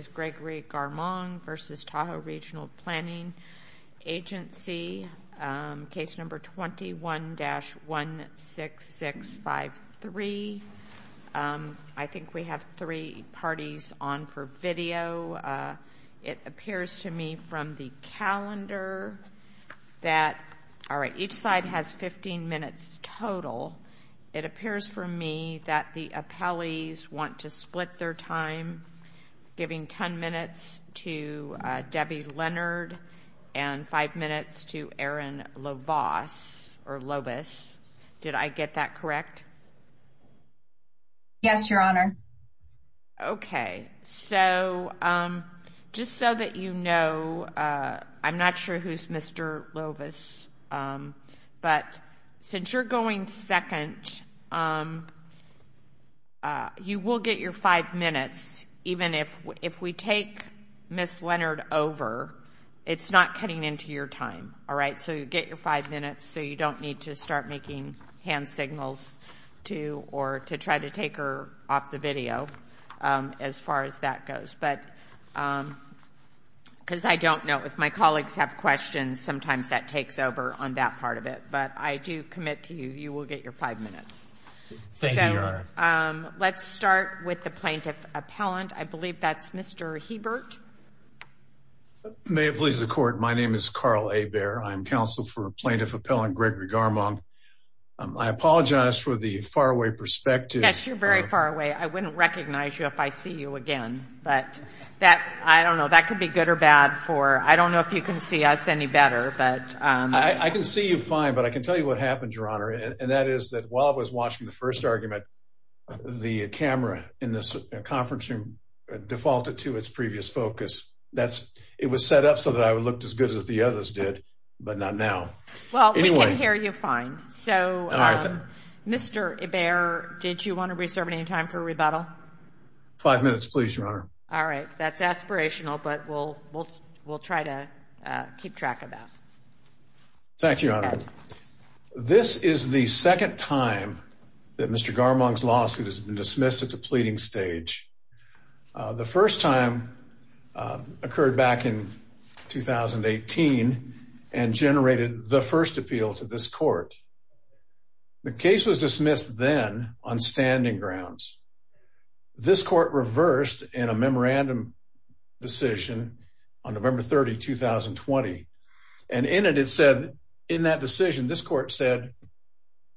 is Gregory Garmong v. Tahoe Regional Planning Agency, case number 21-16653. I think we have three parties on for video. It appears to me from the calendar that, all right, each side has 15 minutes total. It appears for me that the appellees want to split their time, giving 10 minutes to Debbie Leonard and 5 minutes to Erin Lovas, or Lovis. Did I get that correct? Yes, Your Honor. Okay. So just so that you know, I'm not sure who's Mr. Lovis, but since you're going second, you will get your 5 minutes, even if we take Ms. Leonard over, it's not cutting into your time, all right? So you get your 5 minutes, so you don't need to start making hand signals to or to try to take her off the video, as far as that goes, because I don't know, if my colleagues have questions, sometimes that takes over on that part of it, but I do commit to you, you will get your 5 minutes. Thank you, Your Honor. Let's start with the plaintiff appellant, I believe that's Mr. Hebert. May it please the court, my name is Carl Hebert, I'm counsel for plaintiff appellant Gregory Garmong. I apologize for the far away perspective. Yes, you're very far away, I wouldn't recognize you if I see you again, but that, I don't know, that could be good or bad for, I don't know if you can see us any better, but... I can see you fine, but I can tell you what happened, Your Honor, and that is that while I was watching the first argument, the camera in this conference room defaulted to its previous focus. That's, it was set up so that I looked as good as the others did, but not now. Well, we can hear you fine, so Mr. Hebert, did you want to reserve any time for rebuttal? Five minutes please, Your Honor. All right, that's aspirational, but we'll try to keep track of that. Thank you, Your Honor. This is the second time that Mr. Garmong's lawsuit has been dismissed at the pleading stage. The first time occurred back in 2018 and generated the first appeal to this court. The case was dismissed then on standing grounds. This court reversed in a memorandum decision on November 30, 2020, and in it, it said, in that decision, this court said,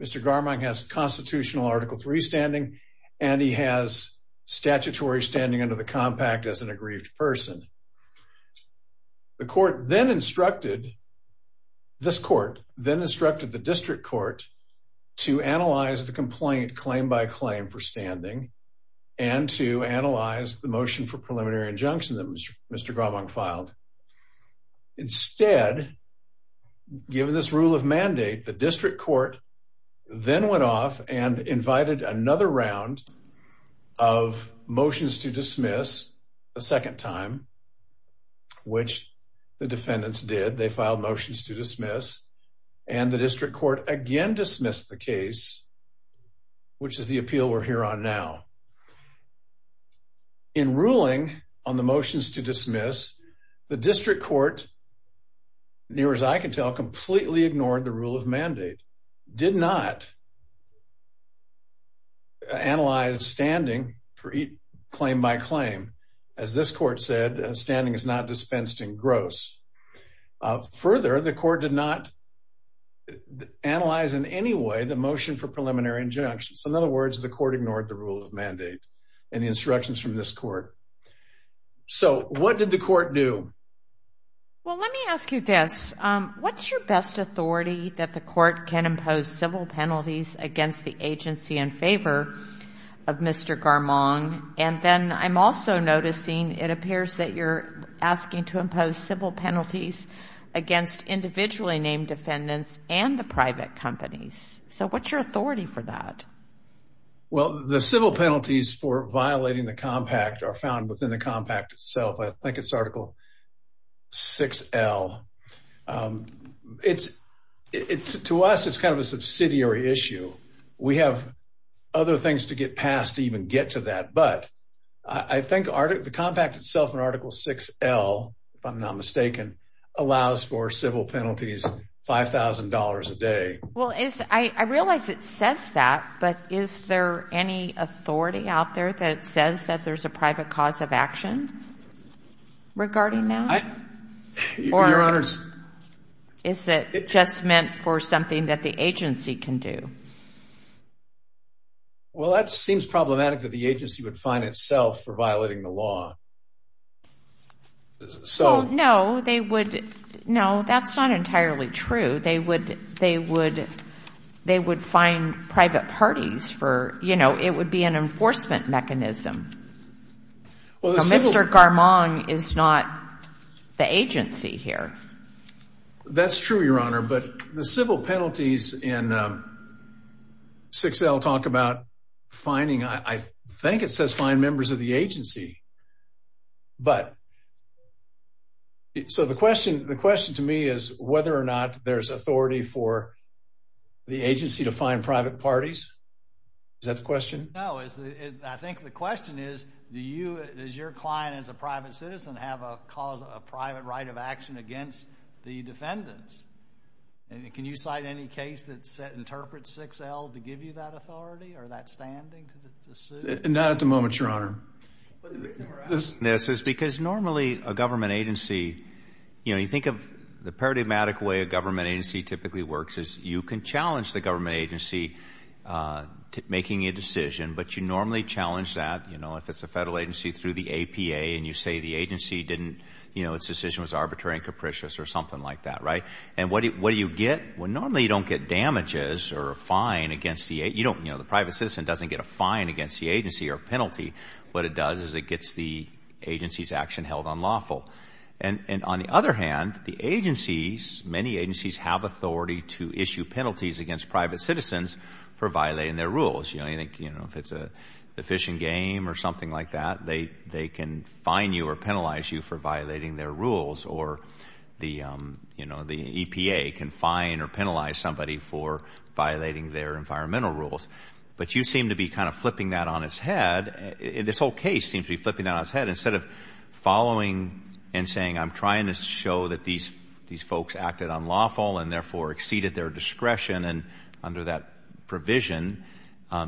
Mr. Garmong has constitutional Article III standing and he has statutory standing under the compact as an aggrieved person. The court then instructed, this court then instructed the district court to analyze the complaint claim by claim for standing and to analyze the motion for preliminary injunction that Mr. Garmong filed. Instead, given this rule of mandate, the district court then went off and invited another round of motions to dismiss a second time, which the defendants did. They filed motions to dismiss, and the district court again dismissed the case, which is the appeal we're here on now. In ruling on the motions to dismiss, the district court, near as I can tell, completely ignored the rule of mandate, did not analyze standing for claim by claim. As this court said, standing is not dispensed in gross. Further, the court did not analyze in any way the motion for preliminary injunction. So in other words, the court ignored the rule of mandate and the instructions from this court. So what did the court do? Well, let me ask you this. What's your best authority that the court can impose civil penalties against the agency in favor of Mr. Garmong? And then I'm also noticing it appears that you're asking to impose civil penalties against individually named defendants and the private companies. So what's your authority for that? Well, the civil penalties for violating the compact are found within the compact itself. I think it's Article 6L. To us, it's kind of a subsidiary issue. We have other things to get past to even get to that. But I think the compact itself in Article 6L, if I'm not mistaken, allows for civil penalties of $5,000 a day. Well, I realize it says that, but is there any authority out there that says that there's a private cause of action regarding that? Your Honors. Or is it just meant for something that the agency can do? Well, that seems problematic that the agency would find itself for violating the law. Well, no, that's not entirely true. They would find private parties for, you know, it would be an enforcement mechanism. Mr. Garmong is not the agency here. That's true, Your Honor. But the civil penalties in 6L talk about finding, I think it says find members of the agency. But, so the question to me is whether or not there's authority for the agency to find private parties. Is that the question? No. I think the question is, does your client as a private citizen have a private right of action against the defendants? Can you cite any case that interprets 6L to give you that authority or that standing to sue? Not at the moment, Your Honor. The reason we're asking this is because normally a government agency, you know, you think of the paradigmatic way a government agency typically works is you can challenge the government agency making a decision, but you normally challenge that, you know, if it's a federal agency through the APA and you say the agency didn't, you know, its decision was arbitrary and capricious or something like that, right? And what do you get? Well, normally you don't get damages or a fine against the, you know, the private citizen doesn't get a fine against the agency or a penalty. What it does is it gets the agency's action held unlawful. And on the other hand, the agencies, many agencies have authority to issue penalties against private citizens for violating their rules. You know, if it's a fishing game or something like that, they can fine you or penalize you for violating their rules or the, you know, the EPA can fine or penalize somebody for violating their environmental rules. But you seem to be kind of flipping that on its head. This whole case seems to be flipping that on its head. Instead of following and saying I'm trying to show that these folks acted unlawful and therefore exceeded their discretion and under that provision,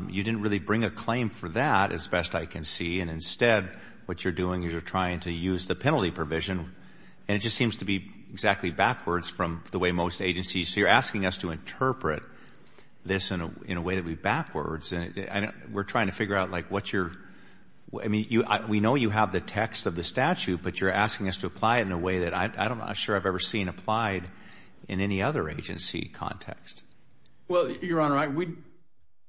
you didn't really bring a claim for that as best I can see, and instead what you're doing is you're trying to use the penalty provision, and it just seems to be exactly backwards from the way most agencies do. So you're asking us to interpret this in a way that would be backwards, and we're trying to figure out like what you're, I mean, we know you have the text of the statute, but you're asking us to apply it in a way that I'm not sure I've ever seen applied in any other agency context. Well, Your Honor,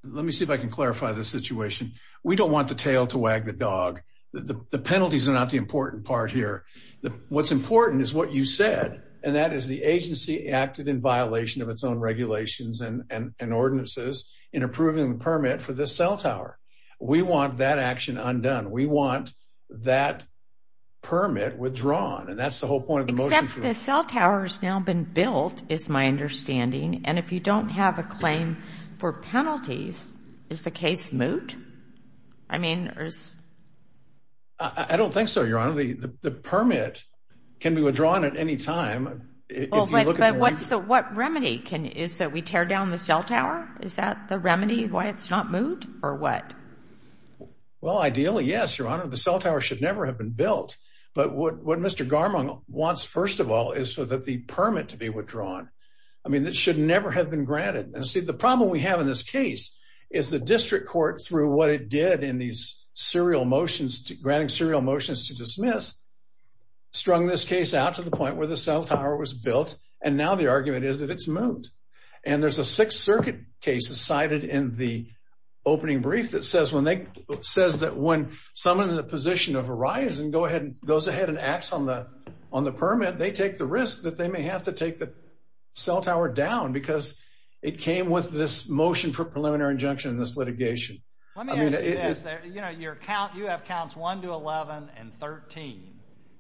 let me see if I can clarify the situation. We don't want the tail to wag the dog. The penalties are not the important part here. What's important is what you said, and that is the agency acted in violation of its own regulations and ordinances in approving the permit for the cell tower. We want that action undone. We want that permit withdrawn, and that's the whole point of the motion. Except the cell tower has now been built is my understanding, and if you don't have a claim for penalties, is the case moot? I mean, there's... I don't think so, Your Honor. The permit can be withdrawn at any time. Well, but what's the... What remedy can... Is that we tear down the cell tower? Is that the remedy why it's not moot, or what? Well, ideally, yes, Your Honor. The cell tower should never have been built, but what Mr. Garmon wants, first of all, is so that the permit to be withdrawn, I mean, it should never have been granted. And see, the problem we have in this case is the district court, through what it did in these serial motions, granting serial motions to dismiss, strung this case out to the point where the cell tower was built, and now the argument is that it's moot. And there's a Sixth Circuit case cited in the opening brief that says that when someone in the position of a rise goes ahead and acts on the permit, they take the risk that they may have to take the cell tower down because it came with this motion for preliminary injunction in this litigation. Let me ask you this. I mean, it is... You know, your count... You have counts 1 to 11 and 13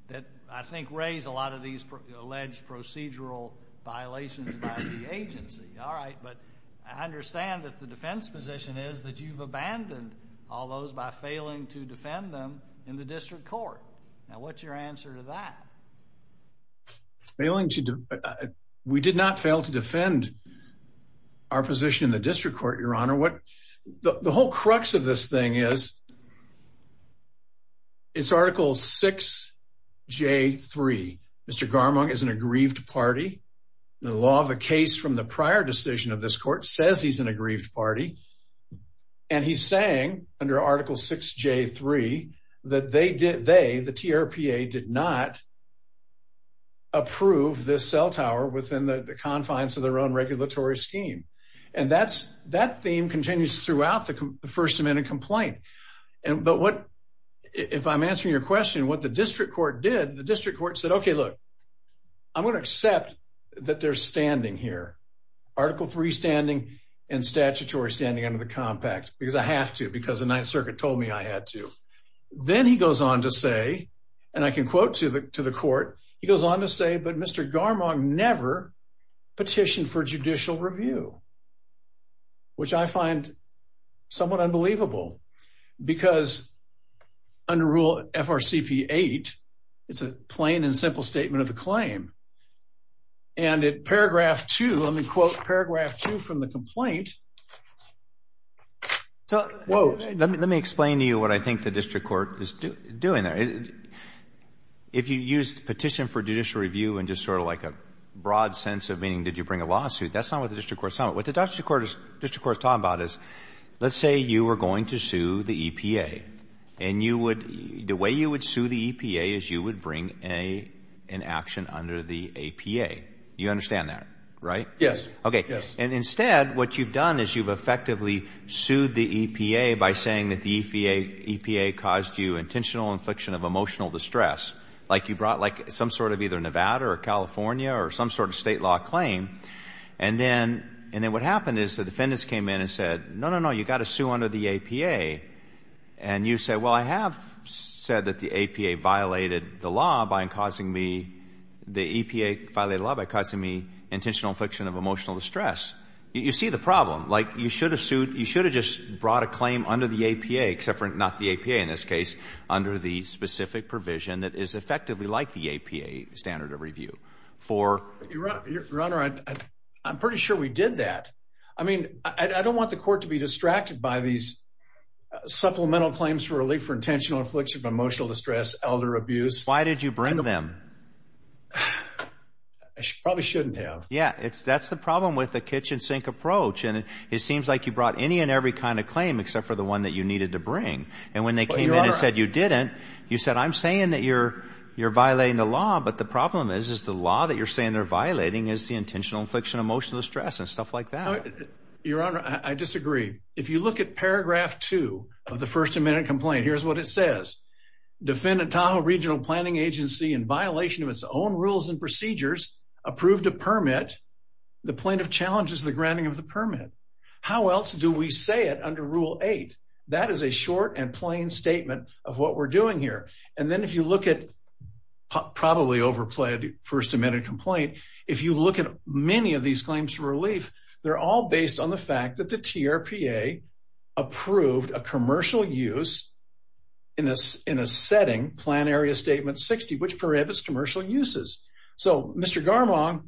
that I think raise a lot of these alleged procedural violations about the agency. All right, but I understand that the defense position is that you've abandoned all those by failing to defend them in the district court. Now, what's your answer to that? Failing to... We did not fail to defend our position in the district court, Your Honor. The whole crux of this thing is, it's Article 6J3. Mr. Garmung is an aggrieved party. The law of the case from the prior decision of this court says he's an aggrieved party. And he's saying, under Article 6J3, that they, the TRPA, did not approve this cell tower within the confines of their own regulatory scheme. And that's... That theme continues throughout the First Amendment complaint. But what... If I'm answering your question, what the district court did, the district court said, okay, look, I'm going to accept that they're standing here, Article 3 standing and statutory standing under the compact, because I have to, because the Ninth Circuit told me I had to. Then he goes on to say, and I can quote to the court, he goes on to say, but Mr. Garmung never petitioned for judicial review. Which I find somewhat unbelievable, because under Rule FRCP8, it's a plain and simple statement of the claim. And at paragraph two, let me quote paragraph two from the complaint. Whoa. Let me explain to you what I think the district court is doing there. If you use petition for judicial review in just sort of like a broad sense of meaning did you bring a lawsuit, that's not what the district court is talking about. What the district court is talking about is, let's say you were going to sue the EPA, and you would, the way you would sue the EPA is you would bring an action under the APA. You understand that, right? Yes. Okay. Yes. And instead, what you've done is you've effectively sued the EPA by saying that the EPA caused you intentional infliction of emotional distress, like you brought like some sort of either Nevada or California or some sort of state law claim, and then what happened is the defendants came in and said, no, no, no, you've got to sue under the APA. And you say, well, I have said that the EPA violated the law by causing me, the EPA violated the law by causing me intentional infliction of emotional distress. You see the problem. Like you should have sued, you should have just brought a claim under the APA, except for not the APA in this case, under the specific provision that is effectively like the APA standard of review for... Your Honor, I'm pretty sure we did that. I mean, I don't want the court to be distracted by these supplemental claims for relief for intentional infliction of emotional distress, elder abuse. Why did you bring them? I probably shouldn't have. Yeah, that's the problem with the kitchen sink approach. And it seems like you brought any and every kind of claim except for the one that you needed to bring. And when they came in and said you didn't, you said, I'm saying that you're violating the law, but the problem is, is the law that you're saying they're violating is the intentional infliction of emotional distress and stuff like that. Your Honor, I disagree. If you look at paragraph two of the first amendment complaint, here's what it says. Defendant Tahoe Regional Planning Agency in violation of its own rules and procedures approved a permit, the plaintiff challenges the granting of the permit. How else do we say it under rule eight? That is a short and plain statement of what we're doing here. And then if you look at probably overplayed first amendment complaint, if you look at many of these claims for relief, they're all based on the fact that the TRPA approved a commercial use in a setting, plan area statement 60, which prohibits commercial uses. So Mr. Garmon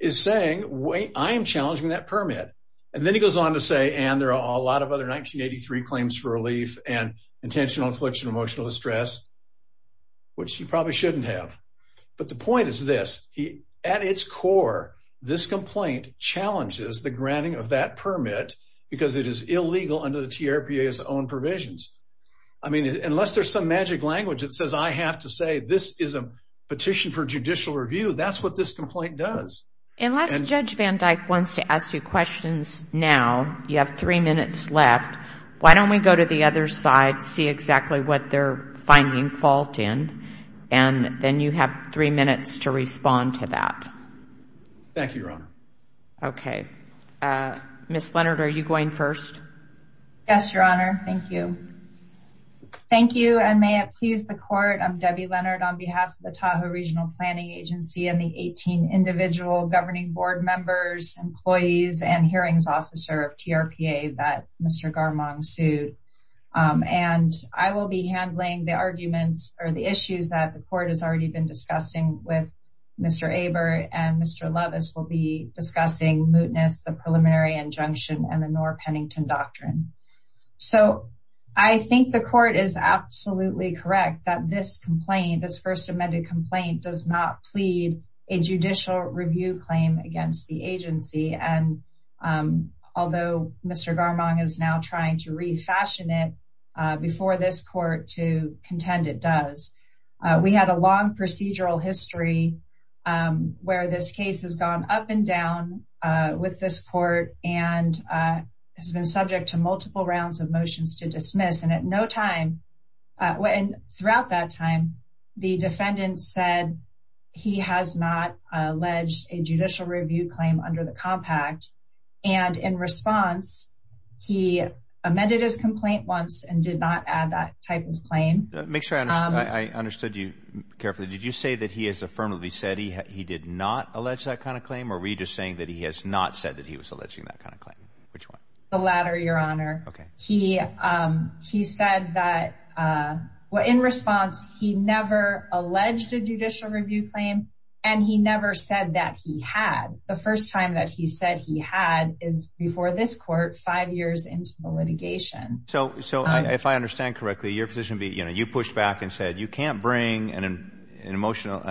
is saying, wait, I am challenging that permit. And then he goes on to say, and there are a lot of other 1983 claims for relief and intentional infliction of emotional distress, which he probably shouldn't have. But the point is this, at its core, this complaint challenges the granting of that permit because it is illegal under the TRPA's own provisions. I mean, unless there's some magic language that says I have to say this is a petition for judicial review, that's what this complaint does. Unless Judge Van Dyke wants to ask you questions now, you have three minutes left, why don't we go to the other side, see exactly what they're finding fault in, and then you have three minutes to respond to that. Thank you, Your Honor. Okay. Ms. Leonard, are you going first? Yes, Your Honor. Thank you. Thank you, and may it please the court, I'm Debbie Leonard on behalf of the Tahoe Regional Planning Agency and the 18 individual governing board members, employees, and hearings officer of TRPA that Mr. Garmon sued. And I will be handling the arguments or the issues that the court has already been discussing with Mr. Aber and Mr. Lovis will be discussing mootness, the preliminary injunction, and the Noor-Pennington Doctrine. So I think the court is absolutely correct that this complaint, this first amended complaint, does not plead a judicial review claim against the agency. And although Mr. Garmon is now trying to refashion it before this court to contend it does. We had a long procedural history where this case has gone up and down with this court and has been subject to multiple rounds of motions to dismiss. And at no time, and throughout that time, the defendant said he has not alleged a judicial review claim under the compact. And in response, he amended his complaint once and did not add that type of claim. Make sure I understood you carefully. Did you say that he has affirmatively said he did not allege that kind of claim? Or were you just saying that he has not said that he was alleging that kind of claim? Which one? The latter, Your Honor. Okay. He said that, well, in response, he never alleged a judicial review claim and he never said that he had. The first time that he said he had is before this court, five years into the litigation. So if I understand correctly, your position would be, you know, you pushed back and said you can't bring an intentional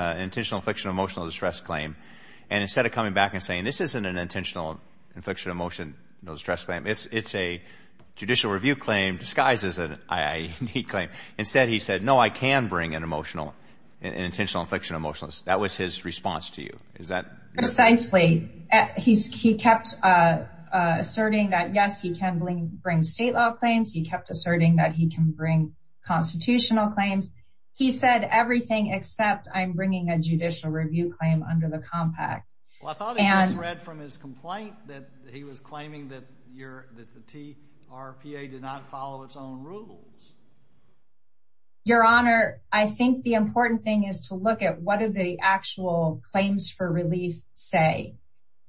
affliction of emotional distress claim. And instead of coming back and saying this isn't an intentional affliction of emotional distress claim, it's a judicial review claim disguised as an I.I.D. claim. Instead, he said, no, I can bring an emotional, an intentional affliction of emotional distress. That was his response to you. Is that? Precisely. He kept asserting that, yes, he can bring state law claims. He kept asserting that he can bring constitutional claims. He said everything except I'm bringing a judicial review claim under the compact. Well, I thought I had read from his complaint that he was claiming that the TRPA did not follow its own rules. Your Honor, I think the important thing is to look at what are the actual claims for relief say.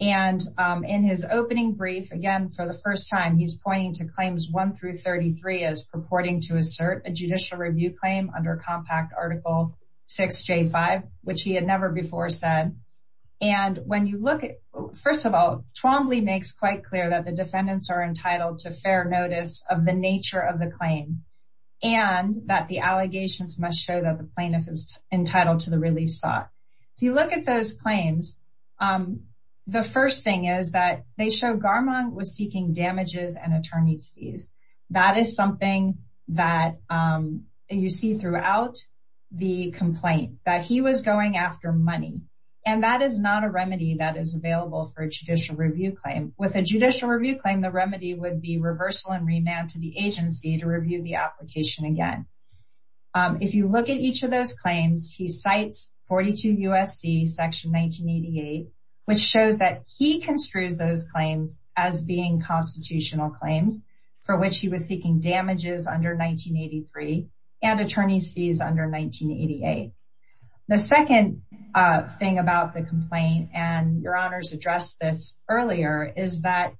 And in his opening brief, again, for the first time, he's pointing to claims one through thirty three as purporting to assert a judicial review claim under Compact Article 6J5, which he had never before said. And when you look at, first of all, Twombly makes quite clear that the defendants are entitled to fair notice of the nature of the claim and that the allegations must show that the plaintiff is entitled to the relief sought. If you look at those claims, the first thing is that they show Garmon was seeking damages and attorney's fees. That is something that you see throughout the complaint, that he was going after money. And that is not a remedy that is available for a judicial review claim. With a judicial review claim, the remedy would be reversal and remand to the agency to review the application again. If you look at each of those claims, he cites 42 U.S.C. Section 1988, which shows that he construes those claims as being constitutional claims for which he was seeking damages under 1983 and attorney's fees under 1988. The second thing about the complaint, and your honors addressed this earlier, is that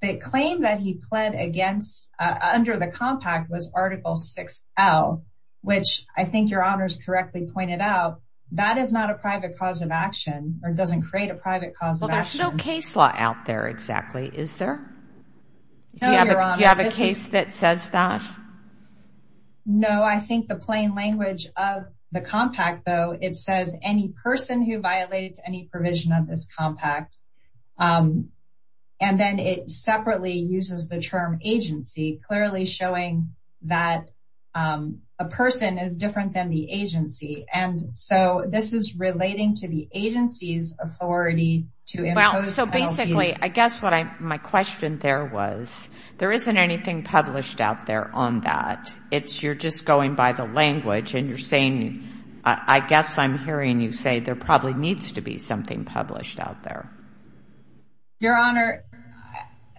the claim that he pled against under the Compact was Article 6L, which I think your honors correctly pointed out, that is not a private cause of action, or doesn't create a private cause of action. Well, there's no case law out there, exactly, is there? No, your honors. Do you have a case that says that? No, I think the plain language of the Compact, though, it says any person who violates any provision of this Compact. And then it separately uses the term agency, clearly showing that a person is different than the agency. And so this is relating to the agency's authority to impose penalties. Well, so basically, I guess my question there was, there isn't anything published out there on that. It's, you're just going by the language, and you're saying, I guess I'm hearing you say there probably needs to be something published out there. Your honor,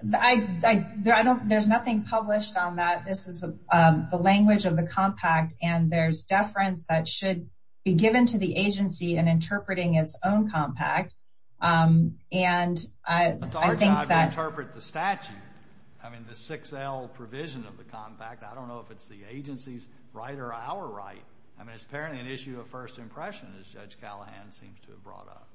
there's nothing published on that. This is the language of the Compact, and there's deference that should be given to the agency in interpreting its own Compact. It's our job to interpret the statute. I mean, the 6L provision of the Compact. I don't know if it's the agency's right or our right. I mean, it's apparently an issue of first impression, as Judge Callahan seems to have brought up.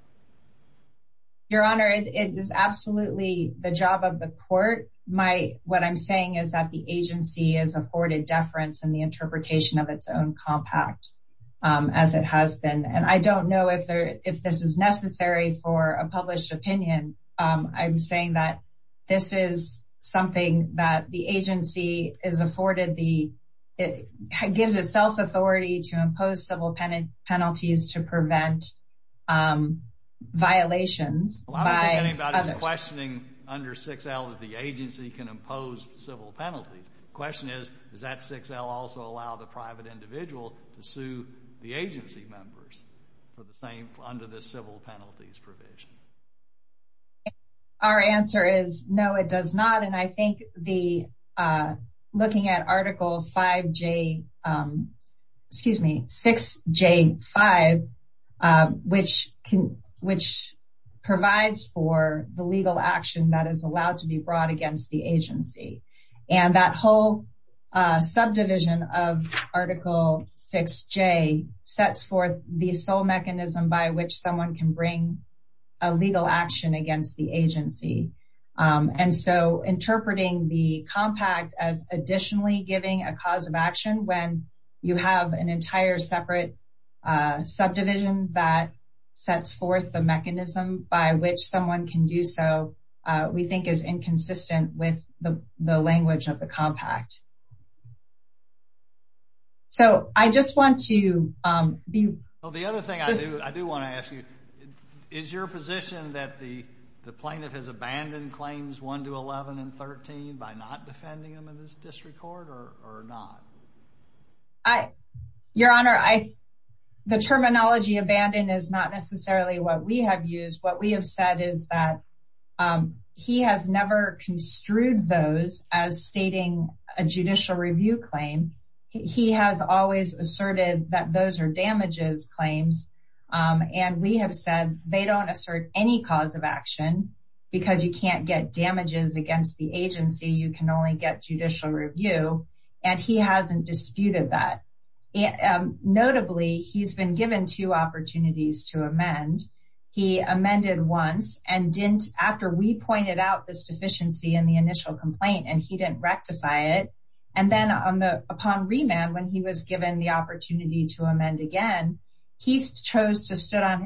Your honor, it is absolutely the job of the court. My, what I'm saying is that the agency is afforded deference in the interpretation of its own Compact, as it has been. And I don't know if this is necessary for a published opinion. I'm saying that this is something that the agency is afforded the, it gives itself authority to impose civil penalties to prevent violations by others. The agency can impose civil penalties. The question is, does that 6L also allow the private individual to sue the agency members for the same, under the civil penalties provision? Our answer is no, it does not. And I think the, looking at Article 5J, excuse me, 6J5, which can, which provides for the legal action against the agency. And that whole subdivision of Article 6J sets forth the sole mechanism by which someone can bring a legal action against the agency. And so interpreting the Compact as additionally giving a cause of action, when you have an entire separate subdivision that sets forth the mechanism by which someone can do so, we think is inconsistent with the language of the Compact. So I just want to be. Well, the other thing I do, I do want to ask you, is your position that the plaintiff has abandoned claims 1 to 11 and 13 by not defending them in this district court or not? Your Honor, I, the terminology abandoned is not necessarily what we have used. What we have said is that he has never construed those as stating a judicial review claim. He has always asserted that those are damages claims. And we have said they don't assert any cause of action because you can't get damages against the agency. You can only get judicial review. And he hasn't disputed that. Notably, he's been given two opportunities to amend. He amended once and didn't, after we pointed out this deficiency in the initial complaint and he didn't rectify it. And then on the, upon remand, when he was given the opportunity to amend again, he chose to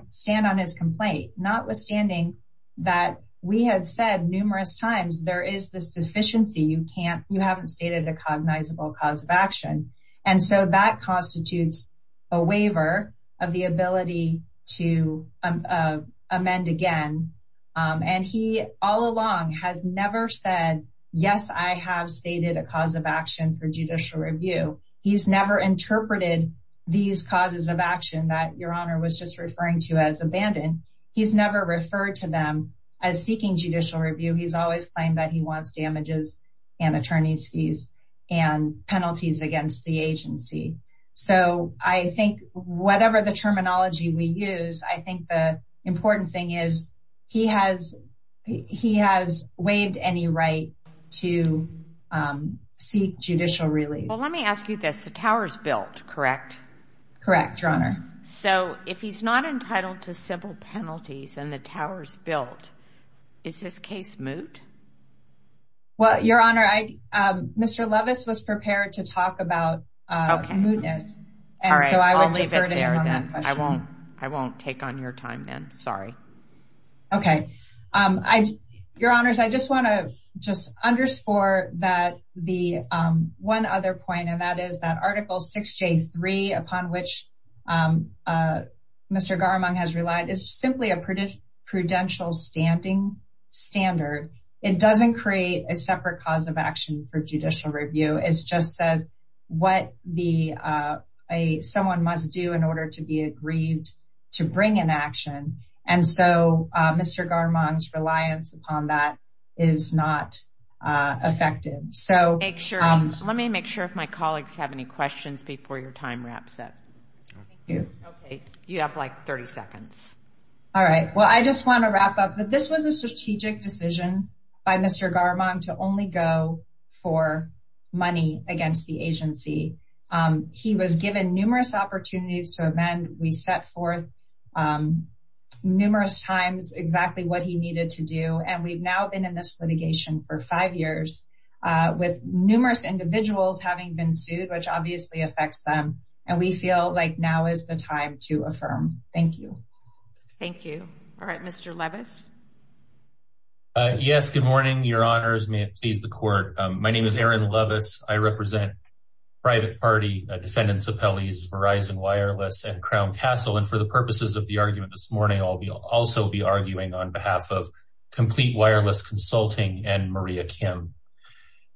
stand on his complaint, notwithstanding that we had said numerous times, there is this deficiency you can't, you haven't stated a cognizable cause of action. And so that constitutes a waiver of the ability to amend again. And he all along has never said, yes, I have stated a cause of action for judicial review. He's never interpreted these causes of action that Your Honor was just referring to as abandoned. He's never referred to them as seeking judicial review. He's always claimed that he wants damages and attorney's fees and penalties against the agency. So I think whatever the terminology we use, I think the important thing is he has, he has waived any right to seek judicial relief. Well, let me ask you this. Correct, Your Honor. So if he's not entitled to civil penalties and the tower's built, is his case moot? Well, Your Honor, I, Mr. Lovis was prepared to talk about mootness and so I would defer to you on that question. All right. I'll leave it there then. I won't take on your time then. Sorry. Okay. I, Your Honors, I just want to just underscore that the one other point, and that is that Mr. Garmung has relied is simply a prudential standing standard. It doesn't create a separate cause of action for judicial review. It's just says what the, someone must do in order to be agreed to bring an action. And so Mr. Garmung's reliance upon that is not effective. So make sure, let me make sure if my colleagues have any questions before your time wraps up. Thank you. Okay. You have like 30 seconds. All right. Well, I just want to wrap up that this was a strategic decision by Mr. Garmung to only go for money against the agency. He was given numerous opportunities to amend. We set forth numerous times exactly what he needed to do. And we've now been in this litigation for five years with numerous individuals having been sued, which obviously affects them. And we feel like now is the time to affirm. Thank you. Thank you. All right. Mr. Leavis. Yes. Good morning. May it please the court. My name is Aaron Leavis. I represent private party defendants appellees, Verizon Wireless and Crown Castle. And for the purposes of the argument this morning, I'll be also be arguing on behalf of Complete Wireless Consulting and Maria Kim.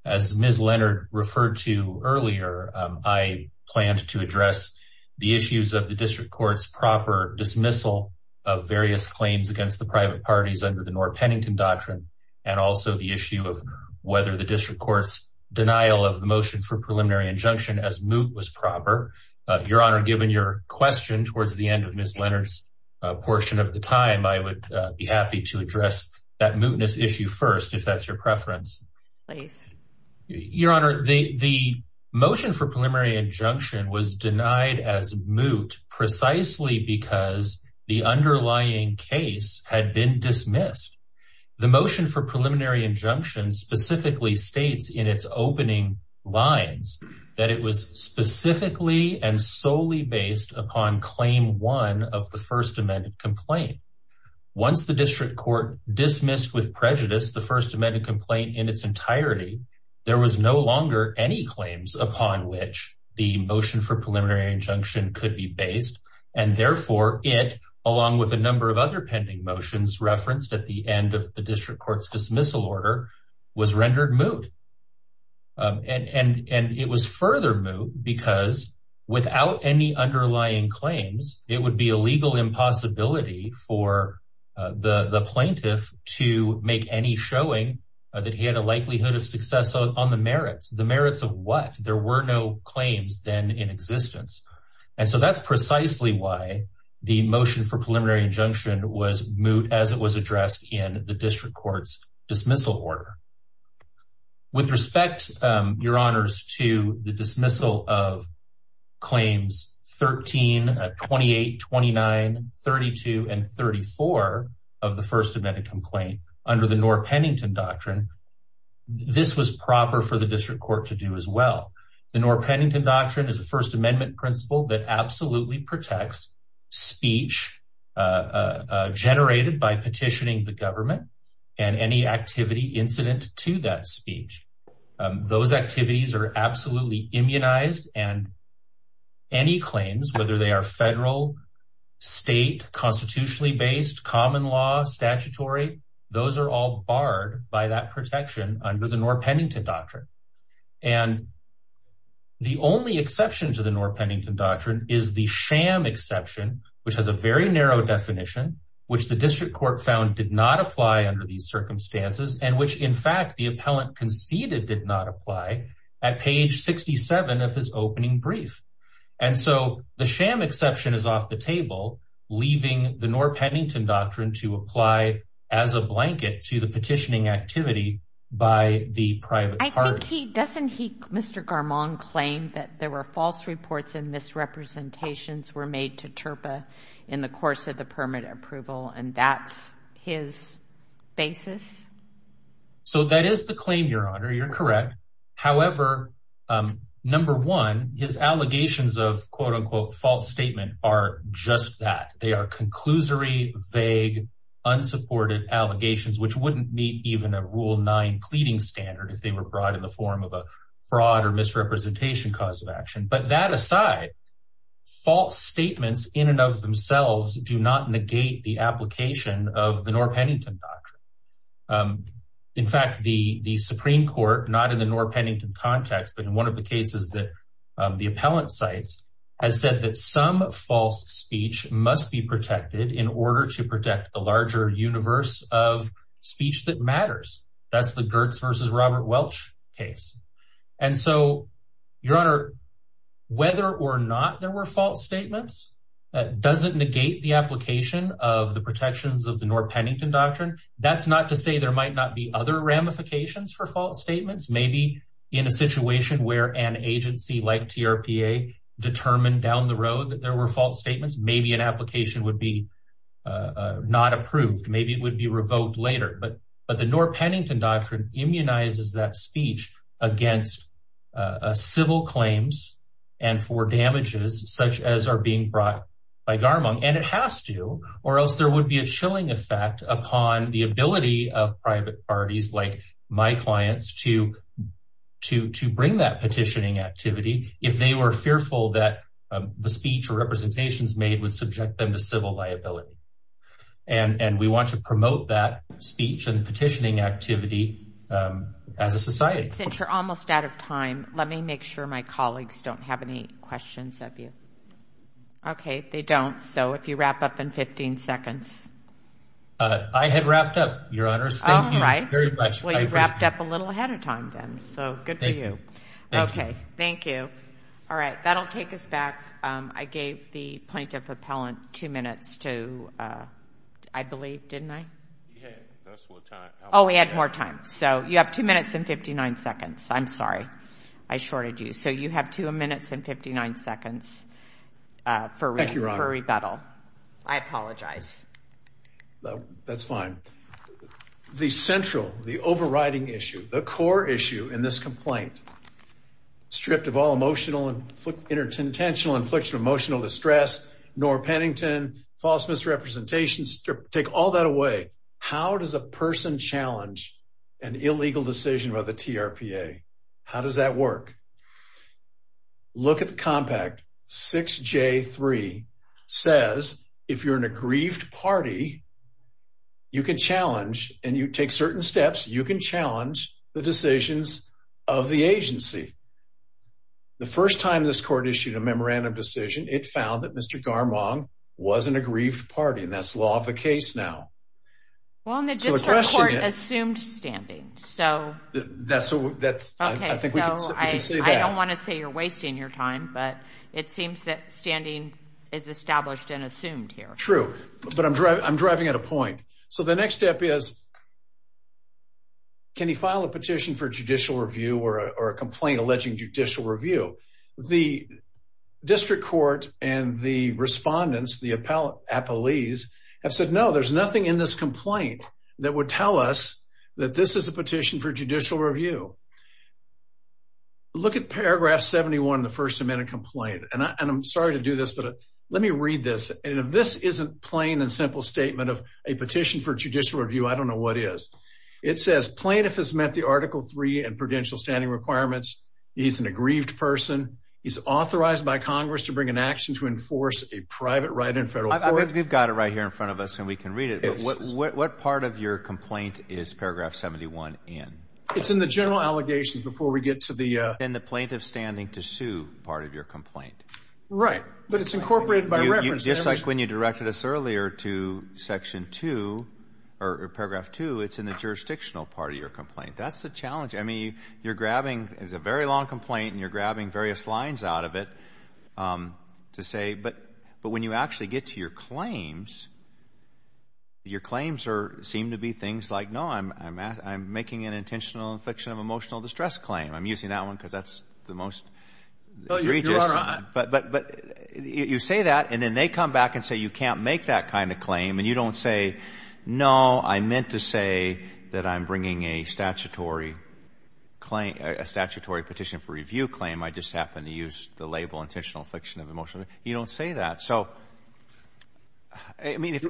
As Ms. Leonard referred to earlier, I planned to address the issues of the district court's proper dismissal of various claims against the private parties under the Norr-Pennington Doctrine and also the issue of whether the district court's denial of the motion for preliminary injunction as moot was proper. Your Honor, given your question towards the end of Ms. Leonard's portion of the time, I would be happy to address that mootness issue first, if that's your preference. Please. Your Honor, the motion for preliminary injunction was denied as moot precisely because the underlying case had been dismissed. The motion for preliminary injunction specifically states in its opening lines that it was specifically and solely based upon Claim 1 of the First Amendment Complaint. Once the district court dismissed with prejudice the First Amendment Complaint in its entirety, there was no longer any claims upon which the motion for preliminary injunction could be based. And therefore, it, along with a number of other pending motions referenced at the end of the district court's dismissal order, was rendered moot. And it was further moot because without any underlying claims, it would be a legal impossibility for the plaintiff to make any showing that he had a likelihood of success on the merits. The merits of what? There were no claims then in existence. And so that's precisely why the motion for preliminary injunction was moot as it was With respect, Your Honors, to the dismissal of Claims 13, 28, 29, 32, and 34 of the First Amendment Complaint under the Norr-Pennington Doctrine, this was proper for the district court to do as well. The Norr-Pennington Doctrine is a First Amendment principle that absolutely protects speech generated by petitioning the government and any activity incident to that speech. Those activities are absolutely immunized and any claims, whether they are federal, state, constitutionally based, common law, statutory, those are all barred by that protection under the Norr-Pennington Doctrine. And the only exception to the Norr-Pennington Doctrine is the sham exception, which has a very narrow definition, which the district court found did not apply under these circumstances and which, in fact, the appellant conceded did not apply at page 67 of his opening brief. And so the sham exception is off the table, leaving the Norr-Pennington Doctrine to apply as a blanket to the petitioning activity by the private party. I think he, doesn't he, Mr. Garmon claim that there were false reports and misrepresentations were made to TURPA in the course of the permit approval and that's his basis? So that is the claim, Your Honor, you're correct. However, number one, his allegations of quote-unquote false statement are just that. They are conclusory, vague, unsupported allegations, which wouldn't meet even a Rule 9 pleading standard if they were brought in the form of a fraud or misrepresentation cause of action. But that aside, false statements in and of themselves do not negate the application of the Norr-Pennington Doctrine. In fact, the Supreme Court, not in the Norr-Pennington context, but in one of the cases that the appellant cites has said that some false speech must be protected in order to protect the larger universe of speech that matters. That's the Gertz versus Robert Welch case. And so, Your Honor, whether or not there were false statements, that doesn't negate the application of the protections of the Norr-Pennington Doctrine. That's not to say there might not be other ramifications for false statements. Maybe in a situation where an agency like TURPA determined down the road that there were false statements, maybe an application would be not approved. Maybe it would be revoked later. But the Norr-Pennington Doctrine immunizes that speech against civil claims and for damages such as are being brought by Garmon. And it has to, or else there would be a chilling effect upon the ability of private parties like my clients to bring that petitioning activity if they were fearful that the speech or representations made would subject them to civil liability. And we want to promote that speech and petitioning activity as a society. Since you're almost out of time, let me make sure my colleagues don't have any questions of you. Okay, they don't. So, if you wrap up in 15 seconds. I had wrapped up, Your Honors. Thank you very much. Well, you wrapped up a little ahead of time then. So, good for you. Thank you. Okay, thank you. All right, that'll take us back. I gave the plaintiff appellant two minutes to, I believe, didn't I? He had. That's what time. Oh, he had more time. So, you have two minutes and 59 seconds. I'm sorry. I shorted you. So, you have two minutes and 59 seconds for rebuttal. I apologize. That's fine. The central, the overriding issue, the core issue in this complaint, strip of all emotional and intentional infliction of emotional distress, Nora Pennington, false misrepresentation, strip, take all that away. How does a person challenge an illegal decision by the TRPA? How does that work? Look at the compact, 6J3 says, if you're in a grieved party, you can challenge, and you take certain steps, you can challenge the decisions of the agency. The first time this court issued a memorandum decision, it found that Mr. Garmong was in a grieved party, and that's law of the case now. Well, and the district court assumed standing. So, I don't want to say you're wasting your time, but it seems that standing is established and assumed here. True. But I'm driving at a point. So, the next step is, can you file a petition for judicial review or a complaint alleging judicial review? The district court and the respondents, the appellees, have said, no, there's nothing in this complaint that would tell us that this is a petition for judicial review. Look at paragraph 71 in the first amendment complaint, and I'm sorry to do this, but let me read this. And if this isn't plain and simple statement of a petition for judicial review, I don't know what is. It says, plaintiff has met the article three and prudential standing requirements. He's an aggrieved person. He's authorized by Congress to bring an action to enforce a private right in federal court. We've got it right here in front of us, and we can read it. What part of your complaint is paragraph 71 in? It's in the general allegations before we get to the... And the plaintiff standing to sue part of your complaint. Right. But it's incorporated by reference. Just like when you directed us earlier to section 2, or paragraph 2, it's in the jurisdictional part of your complaint. That's the challenge. I mean, you're grabbing, it's a very long complaint, and you're grabbing various lines out of it to say, but when you actually get to your claims, your claims seem to be things like, no, I'm making an intentional infliction of emotional distress claim. I'm using that one because that's the most egregious. Your Honor, I... But you say that, and then they come back and say, you can't make that kind of claim, and you don't say, no, I meant to say that I'm bringing a statutory petition for review claim. I just happen to use the label intentional infliction of emotional distress. You don't say that. So, I mean, if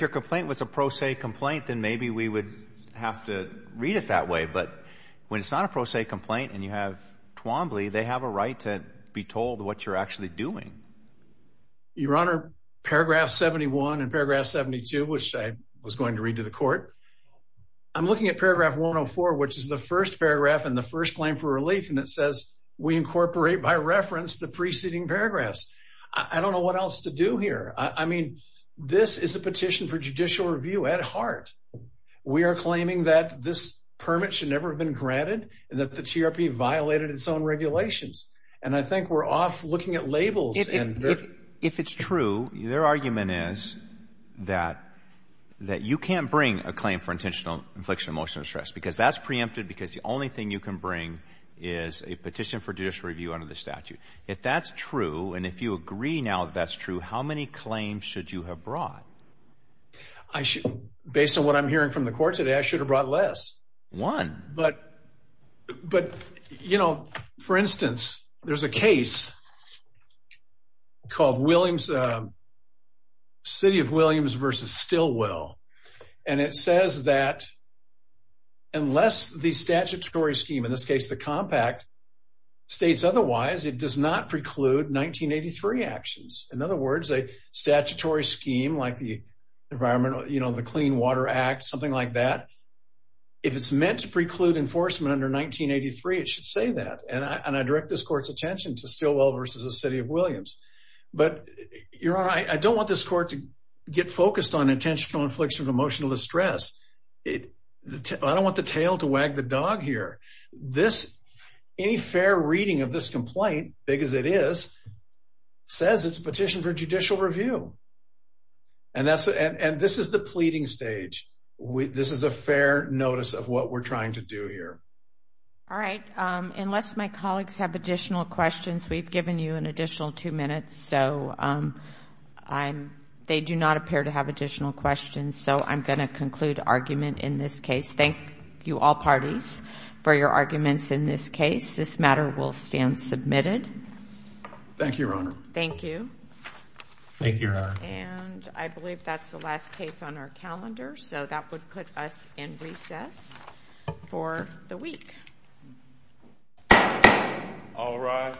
your complaint was a pro se complaint, then maybe we would have to read it that way. But when it's not a pro se complaint, and you have Twombly, they have a right to be there. They're actually doing. Your Honor, paragraph 71 and paragraph 72, which I was going to read to the court, I'm looking at paragraph 104, which is the first paragraph and the first claim for relief, and it says, we incorporate by reference the preceding paragraphs. I don't know what else to do here. I mean, this is a petition for judicial review at heart. We are claiming that this permit should never have been granted, and that the TRP violated its own regulations. And I think we're off looking at labels. If it's true, their argument is that you can't bring a claim for intentional infliction of emotional distress, because that's preempted, because the only thing you can bring is a petition for judicial review under the statute. If that's true, and if you agree now that that's true, how many claims should you have brought? Based on what I'm hearing from the court today, I should have brought less. One. But, you know, for instance, there's a case called Williams, City of Williams versus Stillwell, and it says that unless the statutory scheme, in this case the compact, states otherwise, it does not preclude 1983 actions. In other words, a statutory scheme like the Environment, you know, the Clean Water Act, something like that, if it's meant to preclude enforcement under 1983, it should say that. And I direct this court's attention to Stillwell versus the City of Williams. But Your Honor, I don't want this court to get focused on intentional infliction of emotional distress. I don't want the tail to wag the dog here. Any fair reading of this complaint, big as it is, says it's a petition for judicial review. And this is the pleading stage. This is a fair notice of what we're trying to do here. All right. Unless my colleagues have additional questions, we've given you an additional two minutes, so they do not appear to have additional questions, so I'm going to conclude argument in this case. Thank you, all parties, for your arguments in this case. This matter will stand submitted. Thank you, Your Honor. Thank you. Thank you, Your Honor. And I believe that's the last case on our calendar, so that would put us in recess for the week. All rise.